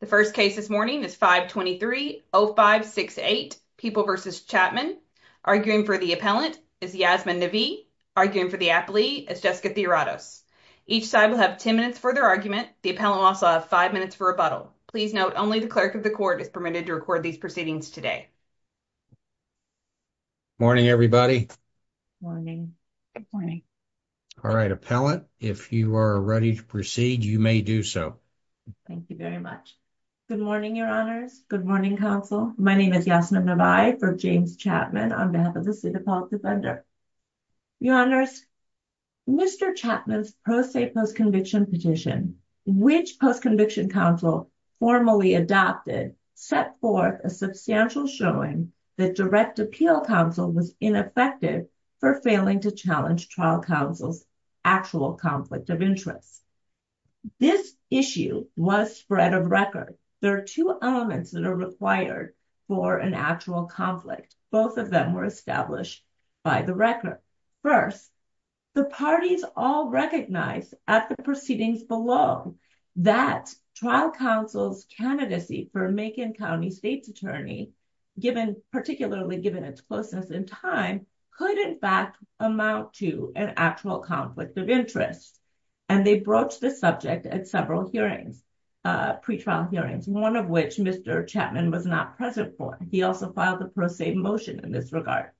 The first case this morning is 523-0568, People v. Chatman. Arguing for the appellant is Yasmin Navi. Arguing for the appellee is Jessica Theoratos. Each side will have 10 minutes for their argument. The appellant will also have five minutes for rebuttal. Please note only the clerk of the court is permitted to record these proceedings today. Morning, everybody. Morning. Good morning. All right, appellant, if you are ready to proceed, you may do so. Thank you very much. Good morning, Your Honors. Good morning, counsel. My name is Yasmin Navi for James Chatman on behalf of the State Appellant Defender. Your Honors, Mr. Chatman's pro se post-conviction petition, which post-conviction counsel formally adopted, set forth a substantial showing that direct appeal counsel was ineffective for failing to challenge trial counsel's actual conflict of interest. This issue was spread of record. There are two elements that are required for an actual conflict. Both of them were established by the record. First, the parties all recognized at the proceedings below that trial counsel's candidacy for Macon County State's attorney, particularly given its closeness in time, could in fact amount to an actual conflict of interest. And they broached the subject at several hearings, pretrial hearings, one of which Mr. Chatman was not present for. He also filed the pro se motion in this regard.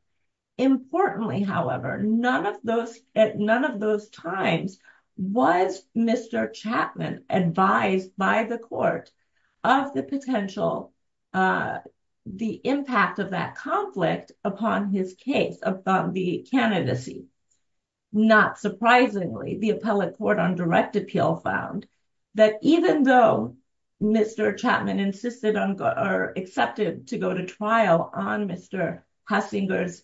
Importantly, however, at none of those times was Mr. Chatman advised by the court of the potential, the impact of that conflict upon his case, upon the candidacy. Not surprisingly, the appellate court on direct appeal found that even though Mr. Chatman insisted on or accepted to go to trial on Mr. Hassinger's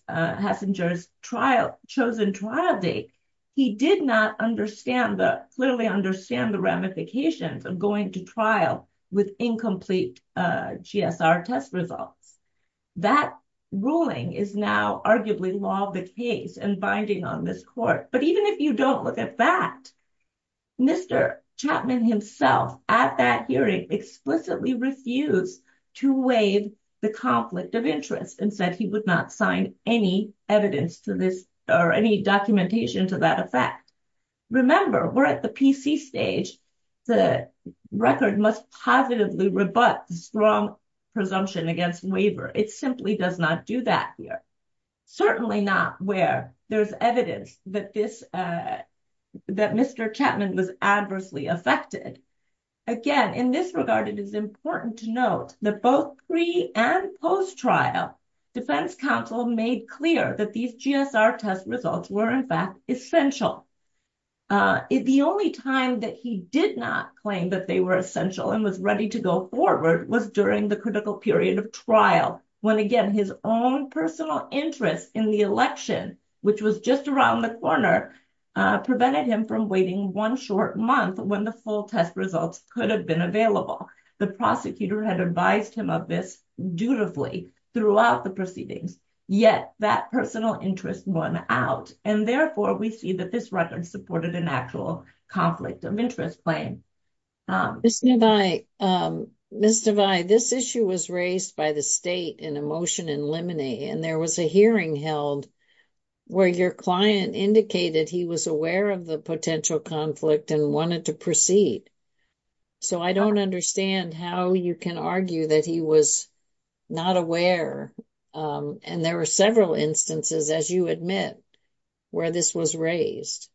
chosen trial date, he did not clearly understand the ramifications of going to trial with incomplete GSR test results. That ruling is now arguably law of the case and binding on this court. But even if you don't look at that, Mr. Chatman himself at that hearing explicitly refused to waive the conflict of interest and said he would not sign any evidence to this or any documentation to that effect. Remember, we're at the PC stage. The record must positively rebut strong presumption against waiver. It simply does not do that here. Certainly not where there's evidence that this, that Mr. Chatman was adversely affected. Again, in this regard, it is important to note that both and post-trial defense counsel made clear that these GSR test results were in fact essential. The only time that he did not claim that they were essential and was ready to go forward was during the critical period of trial, when again, his own personal interest in the election, which was just around the corner, prevented him from waiting one short month when the full test results could have been available. The prosecutor had advised him of this dutifully throughout the proceedings, yet that personal interest went out. And therefore, we see that this record supported an actual conflict of interest claim. Ms. Devay, this issue was raised by the state in a motion in limine and there was a hearing held where your client indicated he was aware of the potential conflict and wanted to proceed. So I don't understand how you can argue that he was not aware. And there were several instances, as you admit, where this was raised.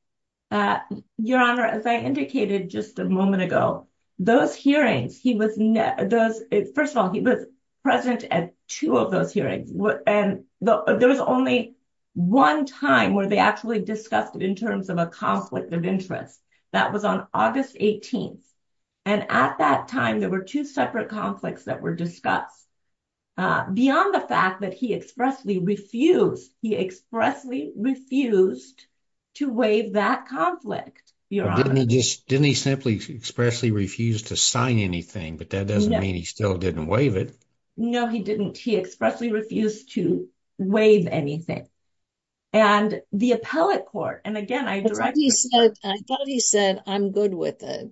Your Honor, as I indicated just a moment ago, those hearings, he was, first of all, he was present at two of those hearings. And there was only one time where they actually discussed it in terms of a conflict of interest. That was on August 18th. And at that time, there were two separate conflicts that were discussed. Beyond the fact that he expressly refused, he expressly refused to waive that conflict, Your Honor. Didn't he just, didn't he simply expressly refuse to sign anything? But that doesn't mean he still didn't waive it. No, he didn't. He appellate court. And again, I thought he said, I'm good with it.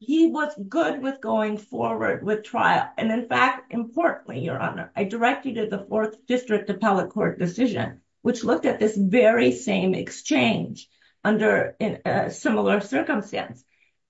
He was good with going forward with trial. And in fact, importantly, Your Honor, I directed to the fourth district appellate court decision, which looked at this very same exchange under a similar circumstance.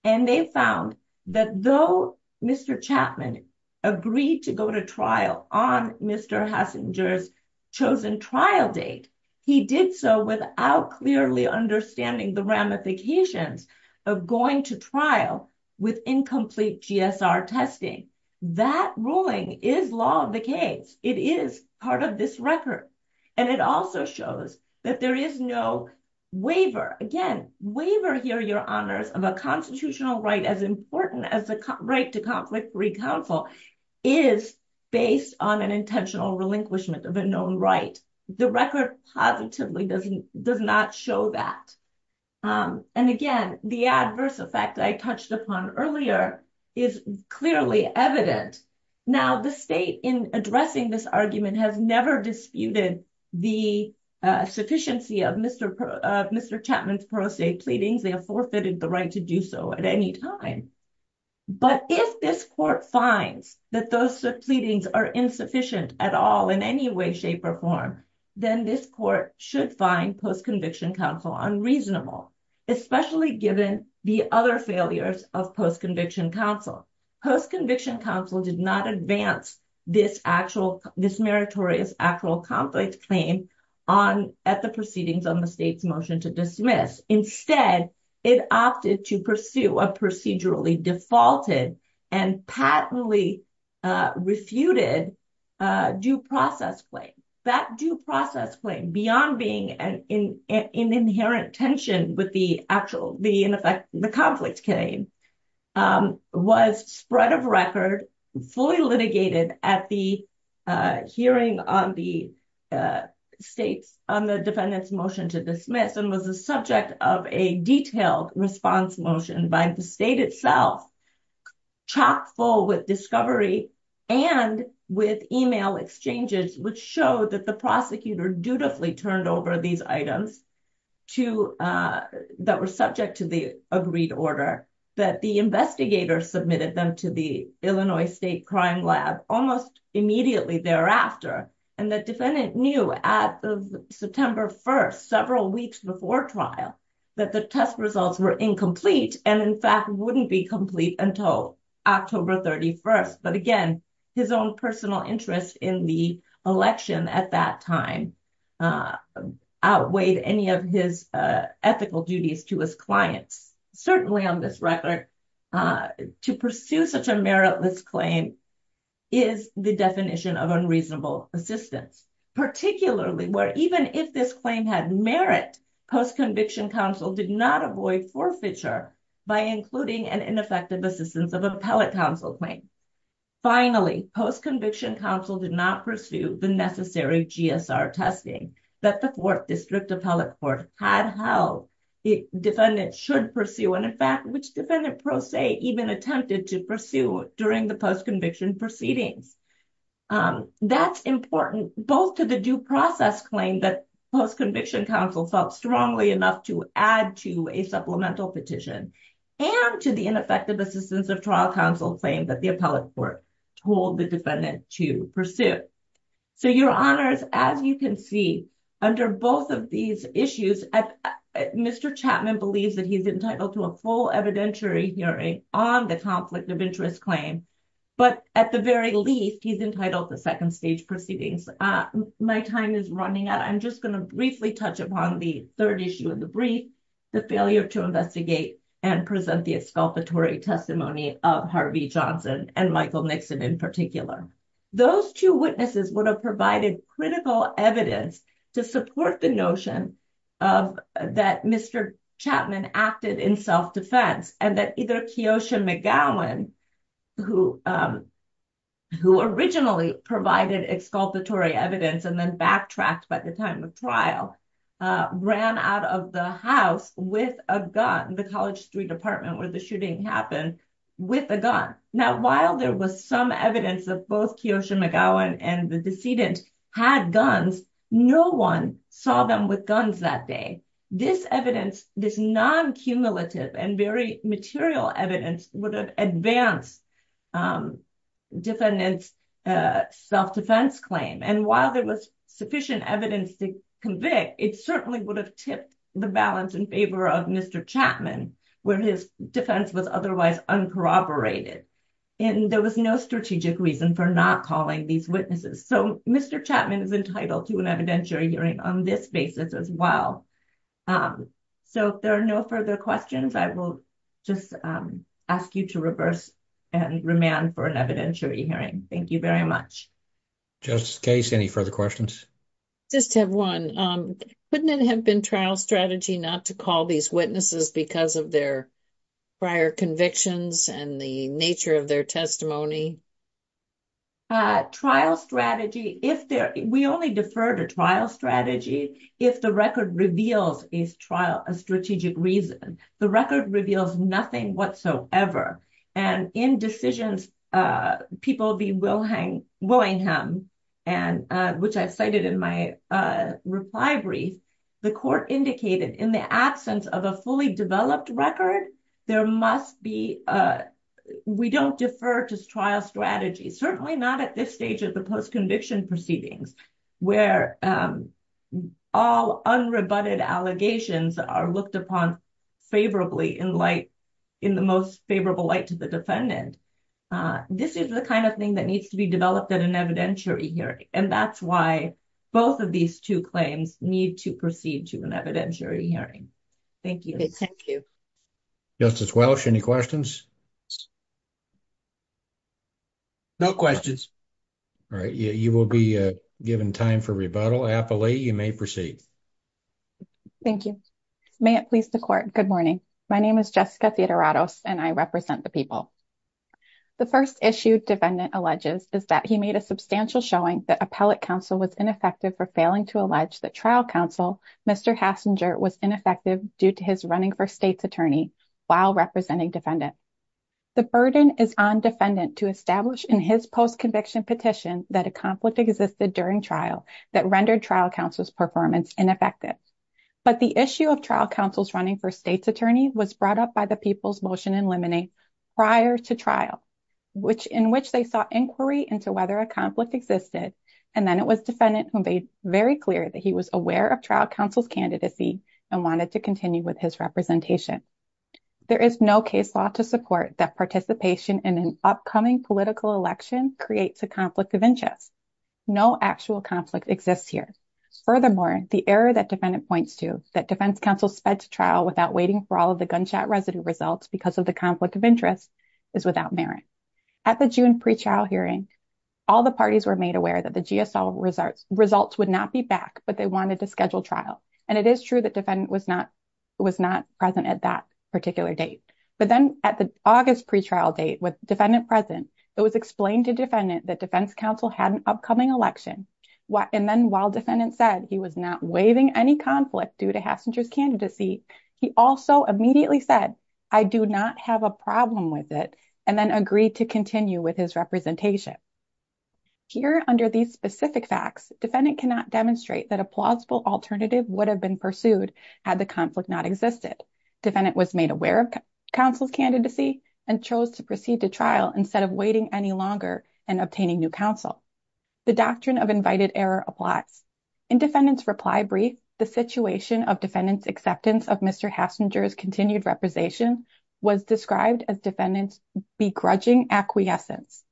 And they found that though Mr. Chapman agreed to go to trial on Mr. Hassinger's chosen trial date, he did so without clearly understanding the ramifications of going to trial with incomplete GSR testing. That ruling is law of the case. It is part of this record. And it also shows that there is no waiver. Again, waiver here, Your Honors, of a constitutional right as important as the right to conflict-free counsel is based on an intentional relinquishment of a known right. The record positively does not show that. And again, the adverse effect I touched upon earlier is clearly evident. Now, the state in addressing this argument has never disputed the sufficiency of Mr. Chapman's pro se pleadings. They have forfeited the right to do so at any time. But if this court finds that those pleadings are insufficient at all in any way, shape, or form, then this court should find post-conviction counsel unreasonable, especially given the other failures of post-conviction counsel. Post-conviction counsel did not advance this meritorious actual conflict claim at the proceedings on the state's motion to dismiss. Instead, it opted to pursue a procedurally defaulted and patently refuted due process claim. That due process claim, beyond being an inherent tension with the conflict claim, was spread of record, fully litigated at the hearing on the defendant's motion to dismiss, and was the subject of a detailed response motion by the state itself, chock full with discovery and with email exchanges, which showed that the prosecutor dutifully turned over these items that were subject to the agreed order, that the investigator submitted them to the Illinois State Crime Lab almost immediately thereafter, and the defendant knew at the September 1st, several weeks before trial, that the test results were incomplete, and in fact wouldn't be complete until October 31st. But again, his own personal interest in the election at that time outweighed any of his ethical duties to his clients. Certainly on this record, to pursue such a meritless claim is the definition of unreasonable assistance, particularly where even if this claim had merit, post-conviction counsel did not avoid forfeiture by including an ineffective assistance of appellate counsel claim. Finally, post-conviction counsel did not pursue the necessary GSR testing that the fourth district appellate court had held defendants should pursue, and in fact, which defendant, per se, even attempted to pursue during the post-conviction proceedings. That's important both to the due process claim that post-conviction counsel felt strongly enough to add to a supplemental petition, and to the ineffective assistance of trial counsel claim that the appellate court told the defendant to pursue. So your honors, as you can see, under both of these issues, Mr. Chapman believes that he's entitled to a full evidentiary hearing on the conflict of interest claim, but at the very least, he's entitled to second stage proceedings. My time is running out. I'm just going to briefly touch upon the third issue of the brief, the failure to investigate and present the exculpatory testimony of Harvey Johnson and Michael Nixon in particular. Those two witnesses would have provided critical evidence to support the notion that Mr. Chapman acted in self-defense, and that either Keosha McGowan, who originally provided exculpatory evidence and then backtracked by the time of trial, ran out of the house with a gun, the College Street apartment where the shooting happened, with a gun. Now, while there was some evidence of both Keosha McGowan and the decedent had guns, no one saw them with guns that day. This evidence, this non-cumulative and very material evidence would have advanced defendant's self-defense claim. And while there was sufficient evidence to convict, it certainly would have tipped the balance in favor of Mr. Chapman, where his defense was otherwise uncorroborated. And there was no strategic reason for not calling these witnesses. So Mr. Chapman is entitled to an evidentiary hearing on this basis as well. So if there are no further questions, I will just ask you to reverse and remand for an evidentiary hearing. Thank you very much. Justice Case, any further questions? Just to have one. Couldn't it have been trial strategy not to call these witnesses because of their prior convictions and the nature of their testimony? Trial strategy, if there, we only defer to trial strategy if the record reveals a trial, a strategic reason. The record reveals nothing whatsoever. And in decisions people be Willingham, and which I cited in my reply brief, the court indicated in the absence of a fully developed record, there must be, we don't defer to trial strategy, certainly not at this stage of the post-conviction proceedings, where all unrebutted allegations are looked upon favorably in light, in the most favorable light to the defendant. This is the kind of thing that needs to be developed at an evidentiary hearing. And that's why both of these two claims need to proceed to an evidentiary hearing. Thank you. Thank you. Justice Welch, any questions? No questions. All right. You will be given time for rebuttal. Applee, you may proceed. Thank you. May it please the court. Good morning. My name is Jessica Theodoratos and I represent the people. The first issue defendant alleges is that he made a substantial showing that appellate counsel was ineffective for failing to allege that trial counsel, Mr. Hassinger was ineffective due to his running for state's attorney while representing defendant. The burden is on defendant to establish in his post-conviction petition that a conflict existed during trial that rendered trial counsel's performance ineffective. But the issue of trial counsel's running for state's attorney was brought up by the people's motion in limine prior to trial, in which they sought inquiry into whether a conflict existed. And then it was defendant who made very clear that he was aware of trial counsel's candidacy and wanted to continue with his representation. There is no case law to support that participation in an upcoming political election creates a conflict of interest. No actual conflict exists here. Furthermore, the error that defendant points to that defense counsel sped to trial without waiting for all of the gunshot residue results because of the conflict of interest is without merit. At the June pre-trial hearing, all the parties were made aware that the GSL results would not be back, but they wanted to schedule trial. And it is true that defendant was not present at that particular date. But then at the August pre-trial date with defendant present, it was explained to defendant that defense counsel had an upcoming election. And then while defendant said he was not waiving any conflict due to Hassinger's candidacy, he also immediately said, I do not have a problem with it, and then agreed to continue with his representation. Here under these specific facts, defendant cannot demonstrate that a plausible alternative would have been pursued had the conflict not existed. Defendant was made aware of counsel's candidacy and chose to proceed to trial instead of waiting any longer and obtaining new counsel. The doctrine of invited error applies. In defendant's reply brief, the situation of defendant's acceptance of Mr. Hassinger's continued representation was described as defendant's begrudging acquiescence.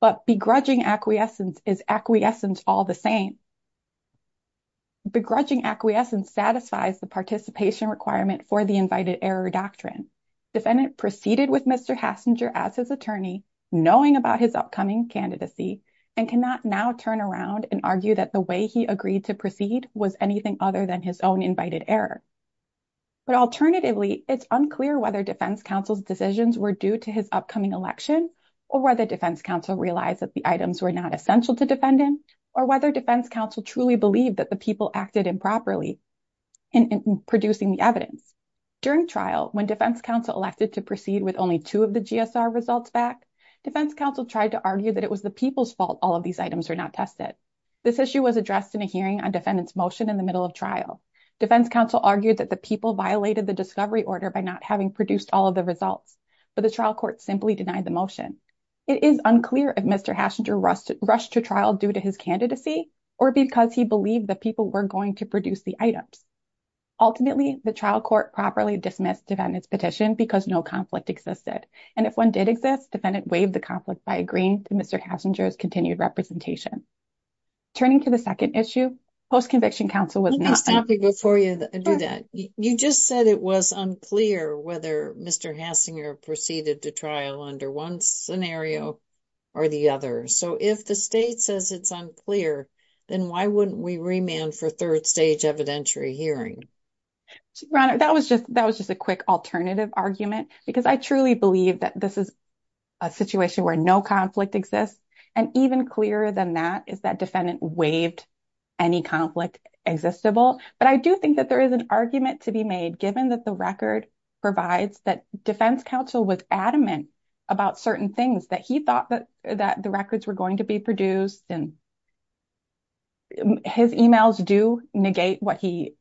But begrudging acquiescence is acquiescence all the same. Begrudging acquiescence satisfies the participation requirement for the invited error doctrine. Defendant proceeded with Mr. Hassinger as his attorney, knowing about his upcoming candidacy, and cannot now turn around and argue that the way he agreed to proceed was anything other than his own invited error. But alternatively, it's unclear whether defense counsel's decisions were due to his upcoming election or whether defense counsel realized that the items were not essential to believe that the people acted improperly in producing the evidence. During trial, when defense counsel elected to proceed with only two of the GSR results back, defense counsel tried to argue that it was the people's fault all of these items are not tested. This issue was addressed in a hearing on defendant's motion in the middle of trial. Defense counsel argued that the people violated the discovery order by not having produced all of the results, but the trial court simply denied the motion. It is unclear if Mr. Hassinger rushed to trial due to his candidacy or because he believed the people were going to produce the items. Ultimately, the trial court properly dismissed defendant's petition because no conflict existed, and if one did exist, defendant waived the conflict by agreeing to Mr. Hassinger's continued representation. Turning to the second issue, post-conviction counsel was not- Let me stop you before you do that. You just said it was unclear whether Mr. Hassinger proceeded to trial under one scenario or the other, so if the state says it's unclear, then why wouldn't we remand for third stage evidentiary hearing? Your Honor, that was just a quick alternative argument because I truly believe that this is a situation where no conflict exists, and even clearer than that is that defendant waived any conflict existable, but I do think that there is an argument to be made given that the record provides that defense counsel was adamant about certain things, that he thought that the records were going to be produced, and his emails do negate what he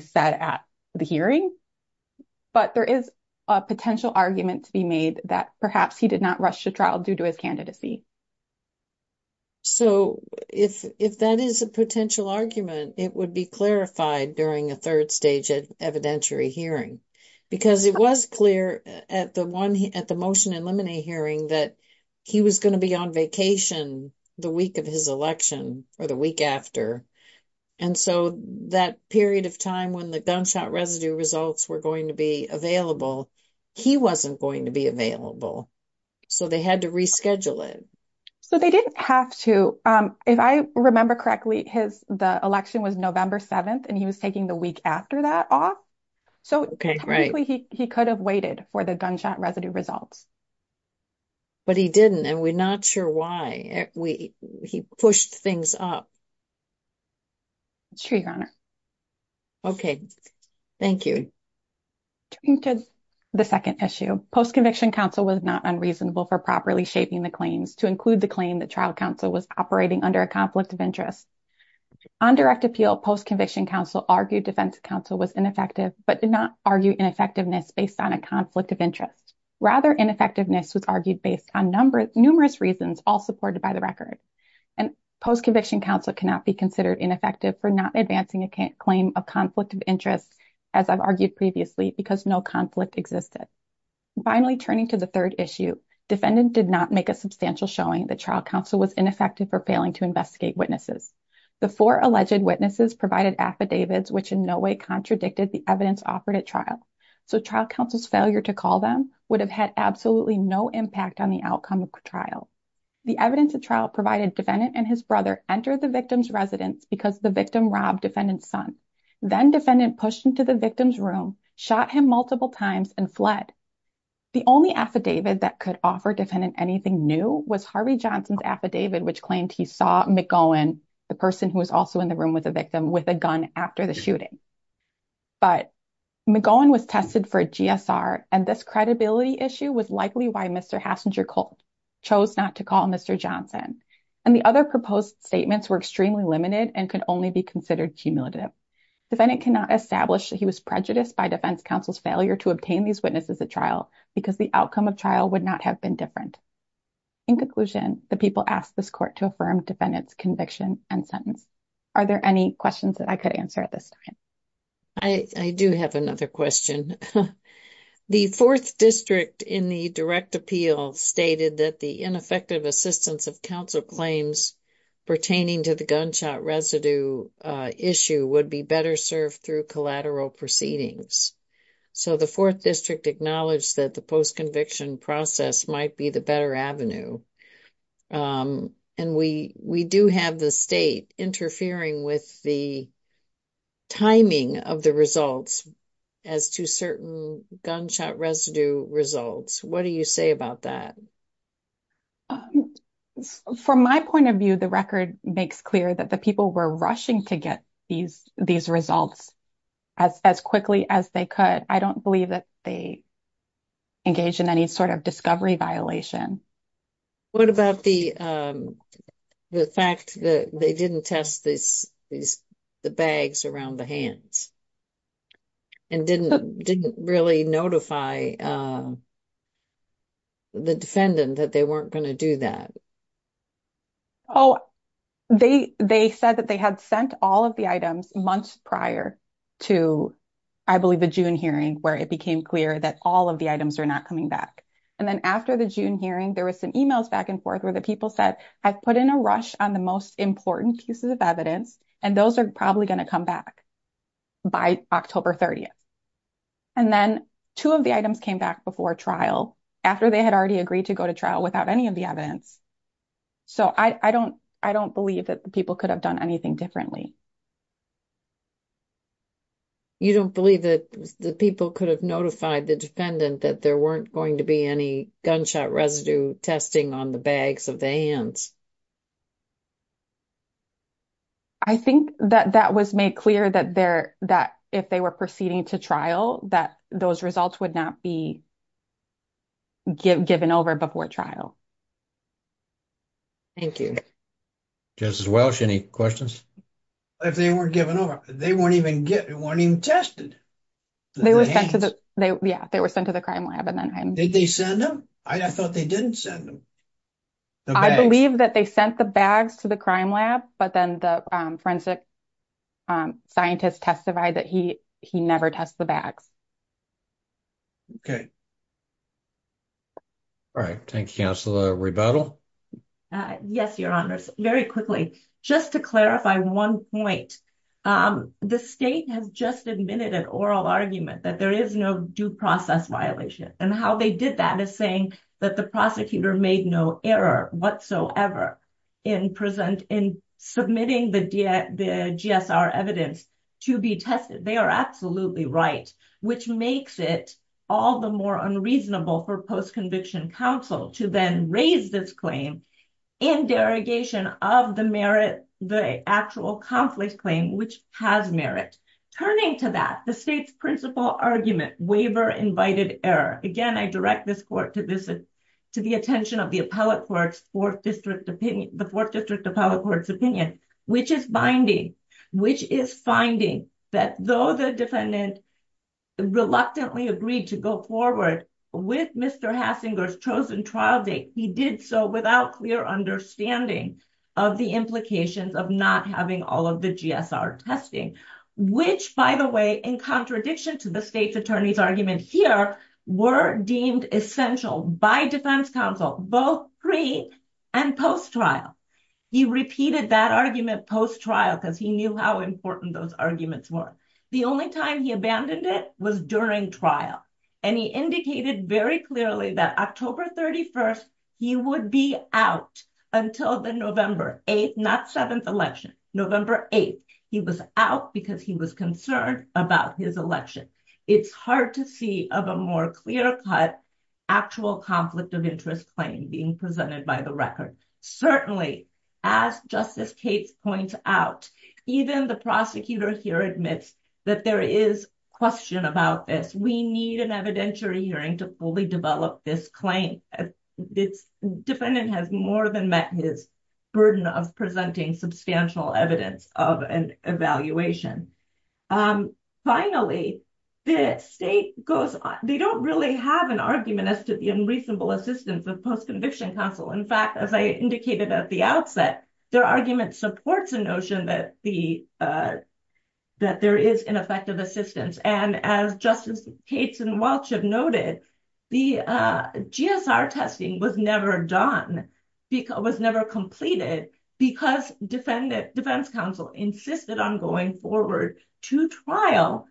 said at the hearing, but there is a potential argument to be made that perhaps he did not rush to trial due to his candidacy. So, if that is a potential argument, it would be clarified during a third stage evidentiary hearing because it was clear at the motion in limine hearing that he was going to be on vacation the week of his election, or the week after, and so that period of time when the gunshot residue results were going to be available, he wasn't going to be available, so they had to reschedule it. So, they didn't have to. If I remember correctly, the election was November 7th, and he was taking the week after that off, so he could have waited for the gunshot residue results. But he didn't, and we're not sure why. He pushed things up. It's true, Your Honor. Okay, thank you. The second issue, post-conviction counsel was not unreasonable for properly shaping the claims to claim that trial counsel was operating under a conflict of interest. On direct appeal, post-conviction counsel argued defense counsel was ineffective but did not argue ineffectiveness based on a conflict of interest. Rather, ineffectiveness was argued based on numerous reasons, all supported by the record. And post-conviction counsel cannot be considered ineffective for not advancing a claim of conflict of interest, as I've argued previously, because no conflict existed. Finally, turning to the third issue, defendant did not make a substantial showing that trial counsel was ineffective for failing to investigate witnesses. The four alleged witnesses provided affidavits which in no way contradicted the evidence offered at trial. So, trial counsel's failure to call them would have had absolutely no impact on the outcome of trial. The evidence at trial provided defendant and his brother entered the victim's residence because the victim robbed defendant's son. Then, defendant pushed into the victim's room, shot him multiple times, and fled. The only affidavit that could offer defendant anything new was Harvey Johnson's affidavit which claimed he saw McGowan, the person who was also in the room with the victim, with a gun after the shooting. But McGowan was tested for a GSR, and this credibility issue was likely why Mr. Hassinger-Colt chose not to call Mr. Johnson. And the other proposed statements were extremely limited and could only be considered cumulative. Defendant cannot establish that he was prejudiced by defense counsel's failure to obtain these as a trial because the outcome of trial would not have been different. In conclusion, the people asked this court to affirm defendant's conviction and sentence. Are there any questions that I could answer at this time? I do have another question. The fourth district in the direct appeal stated that the ineffective assistance of counsel claims pertaining to the gunshot residue issue would be better served through collateral proceedings. So the fourth district acknowledged that the post-conviction process might be the better avenue. And we do have the state interfering with the timing of the results as to certain gunshot residue results. What do you say about that? From my point of view, the record makes clear that the people were rushing to get these results as quickly as they could. I don't believe that they engaged in any sort of discovery violation. What about the fact that they didn't test the bags around the hands and didn't really notify the defendant that they weren't going to do that? Oh, they said that they had sent all of the items months prior to, I believe, the June hearing, where it became clear that all of the items were not coming back. And then after the June hearing, there were some emails back and forth where the people said, I've put in a rush on the most important pieces of evidence, and those are probably going to come back by October 30th. And then two of the items came back before trial, after they had already agreed to go to trial without any of the evidence. So I don't believe that the people could have done anything differently. You don't believe that the people could have notified the defendant that there weren't going to be any gunshot residue testing on the bags of the hands? I think that that was made clear that if they were proceeding to trial, that those results would not be given over before trial. Thank you. Justice Welch, any questions? If they weren't given over, they weren't even tested. Yeah, they were sent to the crime lab. Did they send them? I thought they didn't send them. I believe that they sent the bags to the crime lab, but then the forensic scientists testified that he never tests the bags. Okay. All right. Thank you, Counselor Rebuttal. Yes, Your Honors. Very quickly, just to clarify one point. The state has just admitted an oral argument that there is no due process violation, and how they did that is saying that the prosecutor made no error whatsoever in submitting the GSR evidence to be tested. They are absolutely right, which makes it all the more unreasonable for post-conviction counsel to then raise this claim in derogation of the actual conflict claim, which has merit. Turning to that, the state's principal argument, waiver-invited error. Again, I direct this court to the attention of the Fourth District Appellate Court's opinion, which is finding that though the defendant reluctantly agreed to go forward with Mr. Hassinger's chosen trial date, he did so without clear understanding of the implications of not having all of the GSR testing, which, by the way, in contradiction to the state's attorney's argument here, were deemed essential by defense counsel, both pre- and post-trial. He repeated that argument post-trial because he knew how important those arguments were. The only time he abandoned it was during trial, and he indicated very clearly that October 31st, he would be out until the November 8th, not 7th election, November 8th. He was out because he was concerned about his election. It's hard to see of a more clear-cut actual conflict of interest claim being presented by the record. Certainly, as Justice Cates points out, even the prosecutor here admits that there is question about this. We need an evidentiary hearing to fully develop this claim. The defendant has more than met his burden of presenting substantial evidence of an evaluation. Finally, the state goes on. They don't really have an argument as to the unreasonable assistance of post-conviction counsel. In fact, as I indicated at the outset, their argument supports a notion that there is ineffective assistance. As Justice Cates and Welch have noted, the GSR testing was never completed because defense counsel insisted on going forward to trial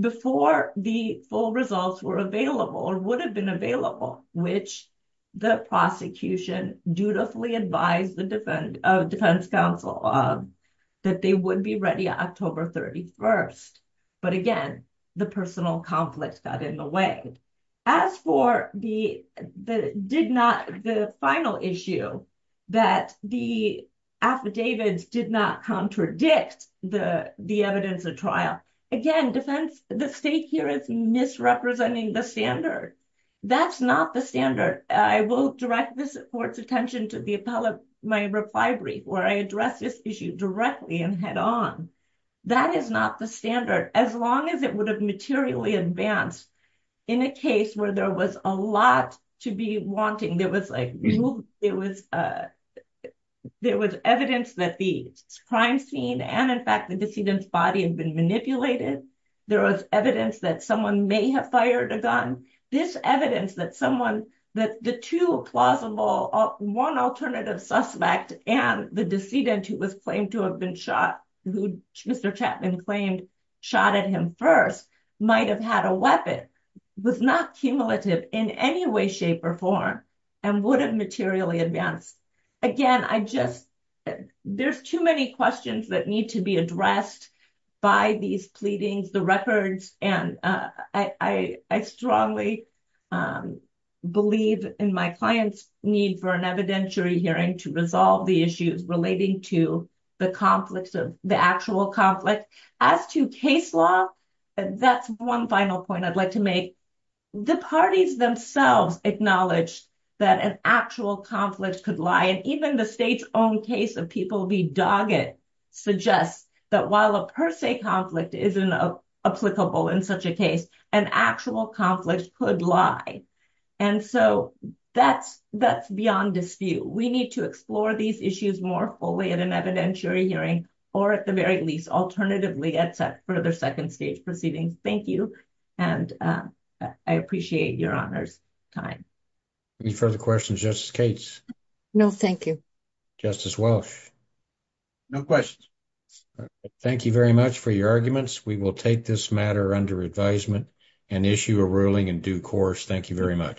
before the full results were available or would have been available, which the prosecution dutifully advised the defense counsel that they would be ready October 31st. Again, the personal conflict got in the way. As for the final issue that the affidavits did not contradict the evidence of trial, again, the state here is misrepresenting the standard. That's not the standard. I will direct the court's attention to my reply brief where I address this issue directly and head-on. That is not the standard, as long as it would have materially advanced in a case where there was a lot to be wanting. There was evidence that the crime scene and, in fact, the decedent's body had been manipulated. There was evidence that someone may have fired a gun. This evidence that the two plausible, one alternative suspect and the decedent who was to have been shot, who Mr. Chapman claimed shot at him first, might have had a weapon, was not cumulative in any way, shape, or form, and would have materially advanced. Again, there are too many questions that need to be addressed by these pleadings, the records. I strongly believe in my client's need for an evidentiary hearing to resolve the issues relating to the actual conflict. As to case law, that's one final point I'd like to make. The parties themselves acknowledged that an actual conflict could lie. Even the state's own case of people being dogged suggests that while a per se conflict isn't applicable in such a case, an actual conflict could lie. That's beyond dispute. We need to explore these issues more fully at an evidentiary hearing, or at the very least, alternatively, at further second stage proceedings. Thank you, and I appreciate your honor's time. Any further questions, Justice Cates? No, thank you. Justice Welch? No questions. Thank you very much for your arguments. We will take this matter under advisement and issue a ruling in due course. Thank you very much.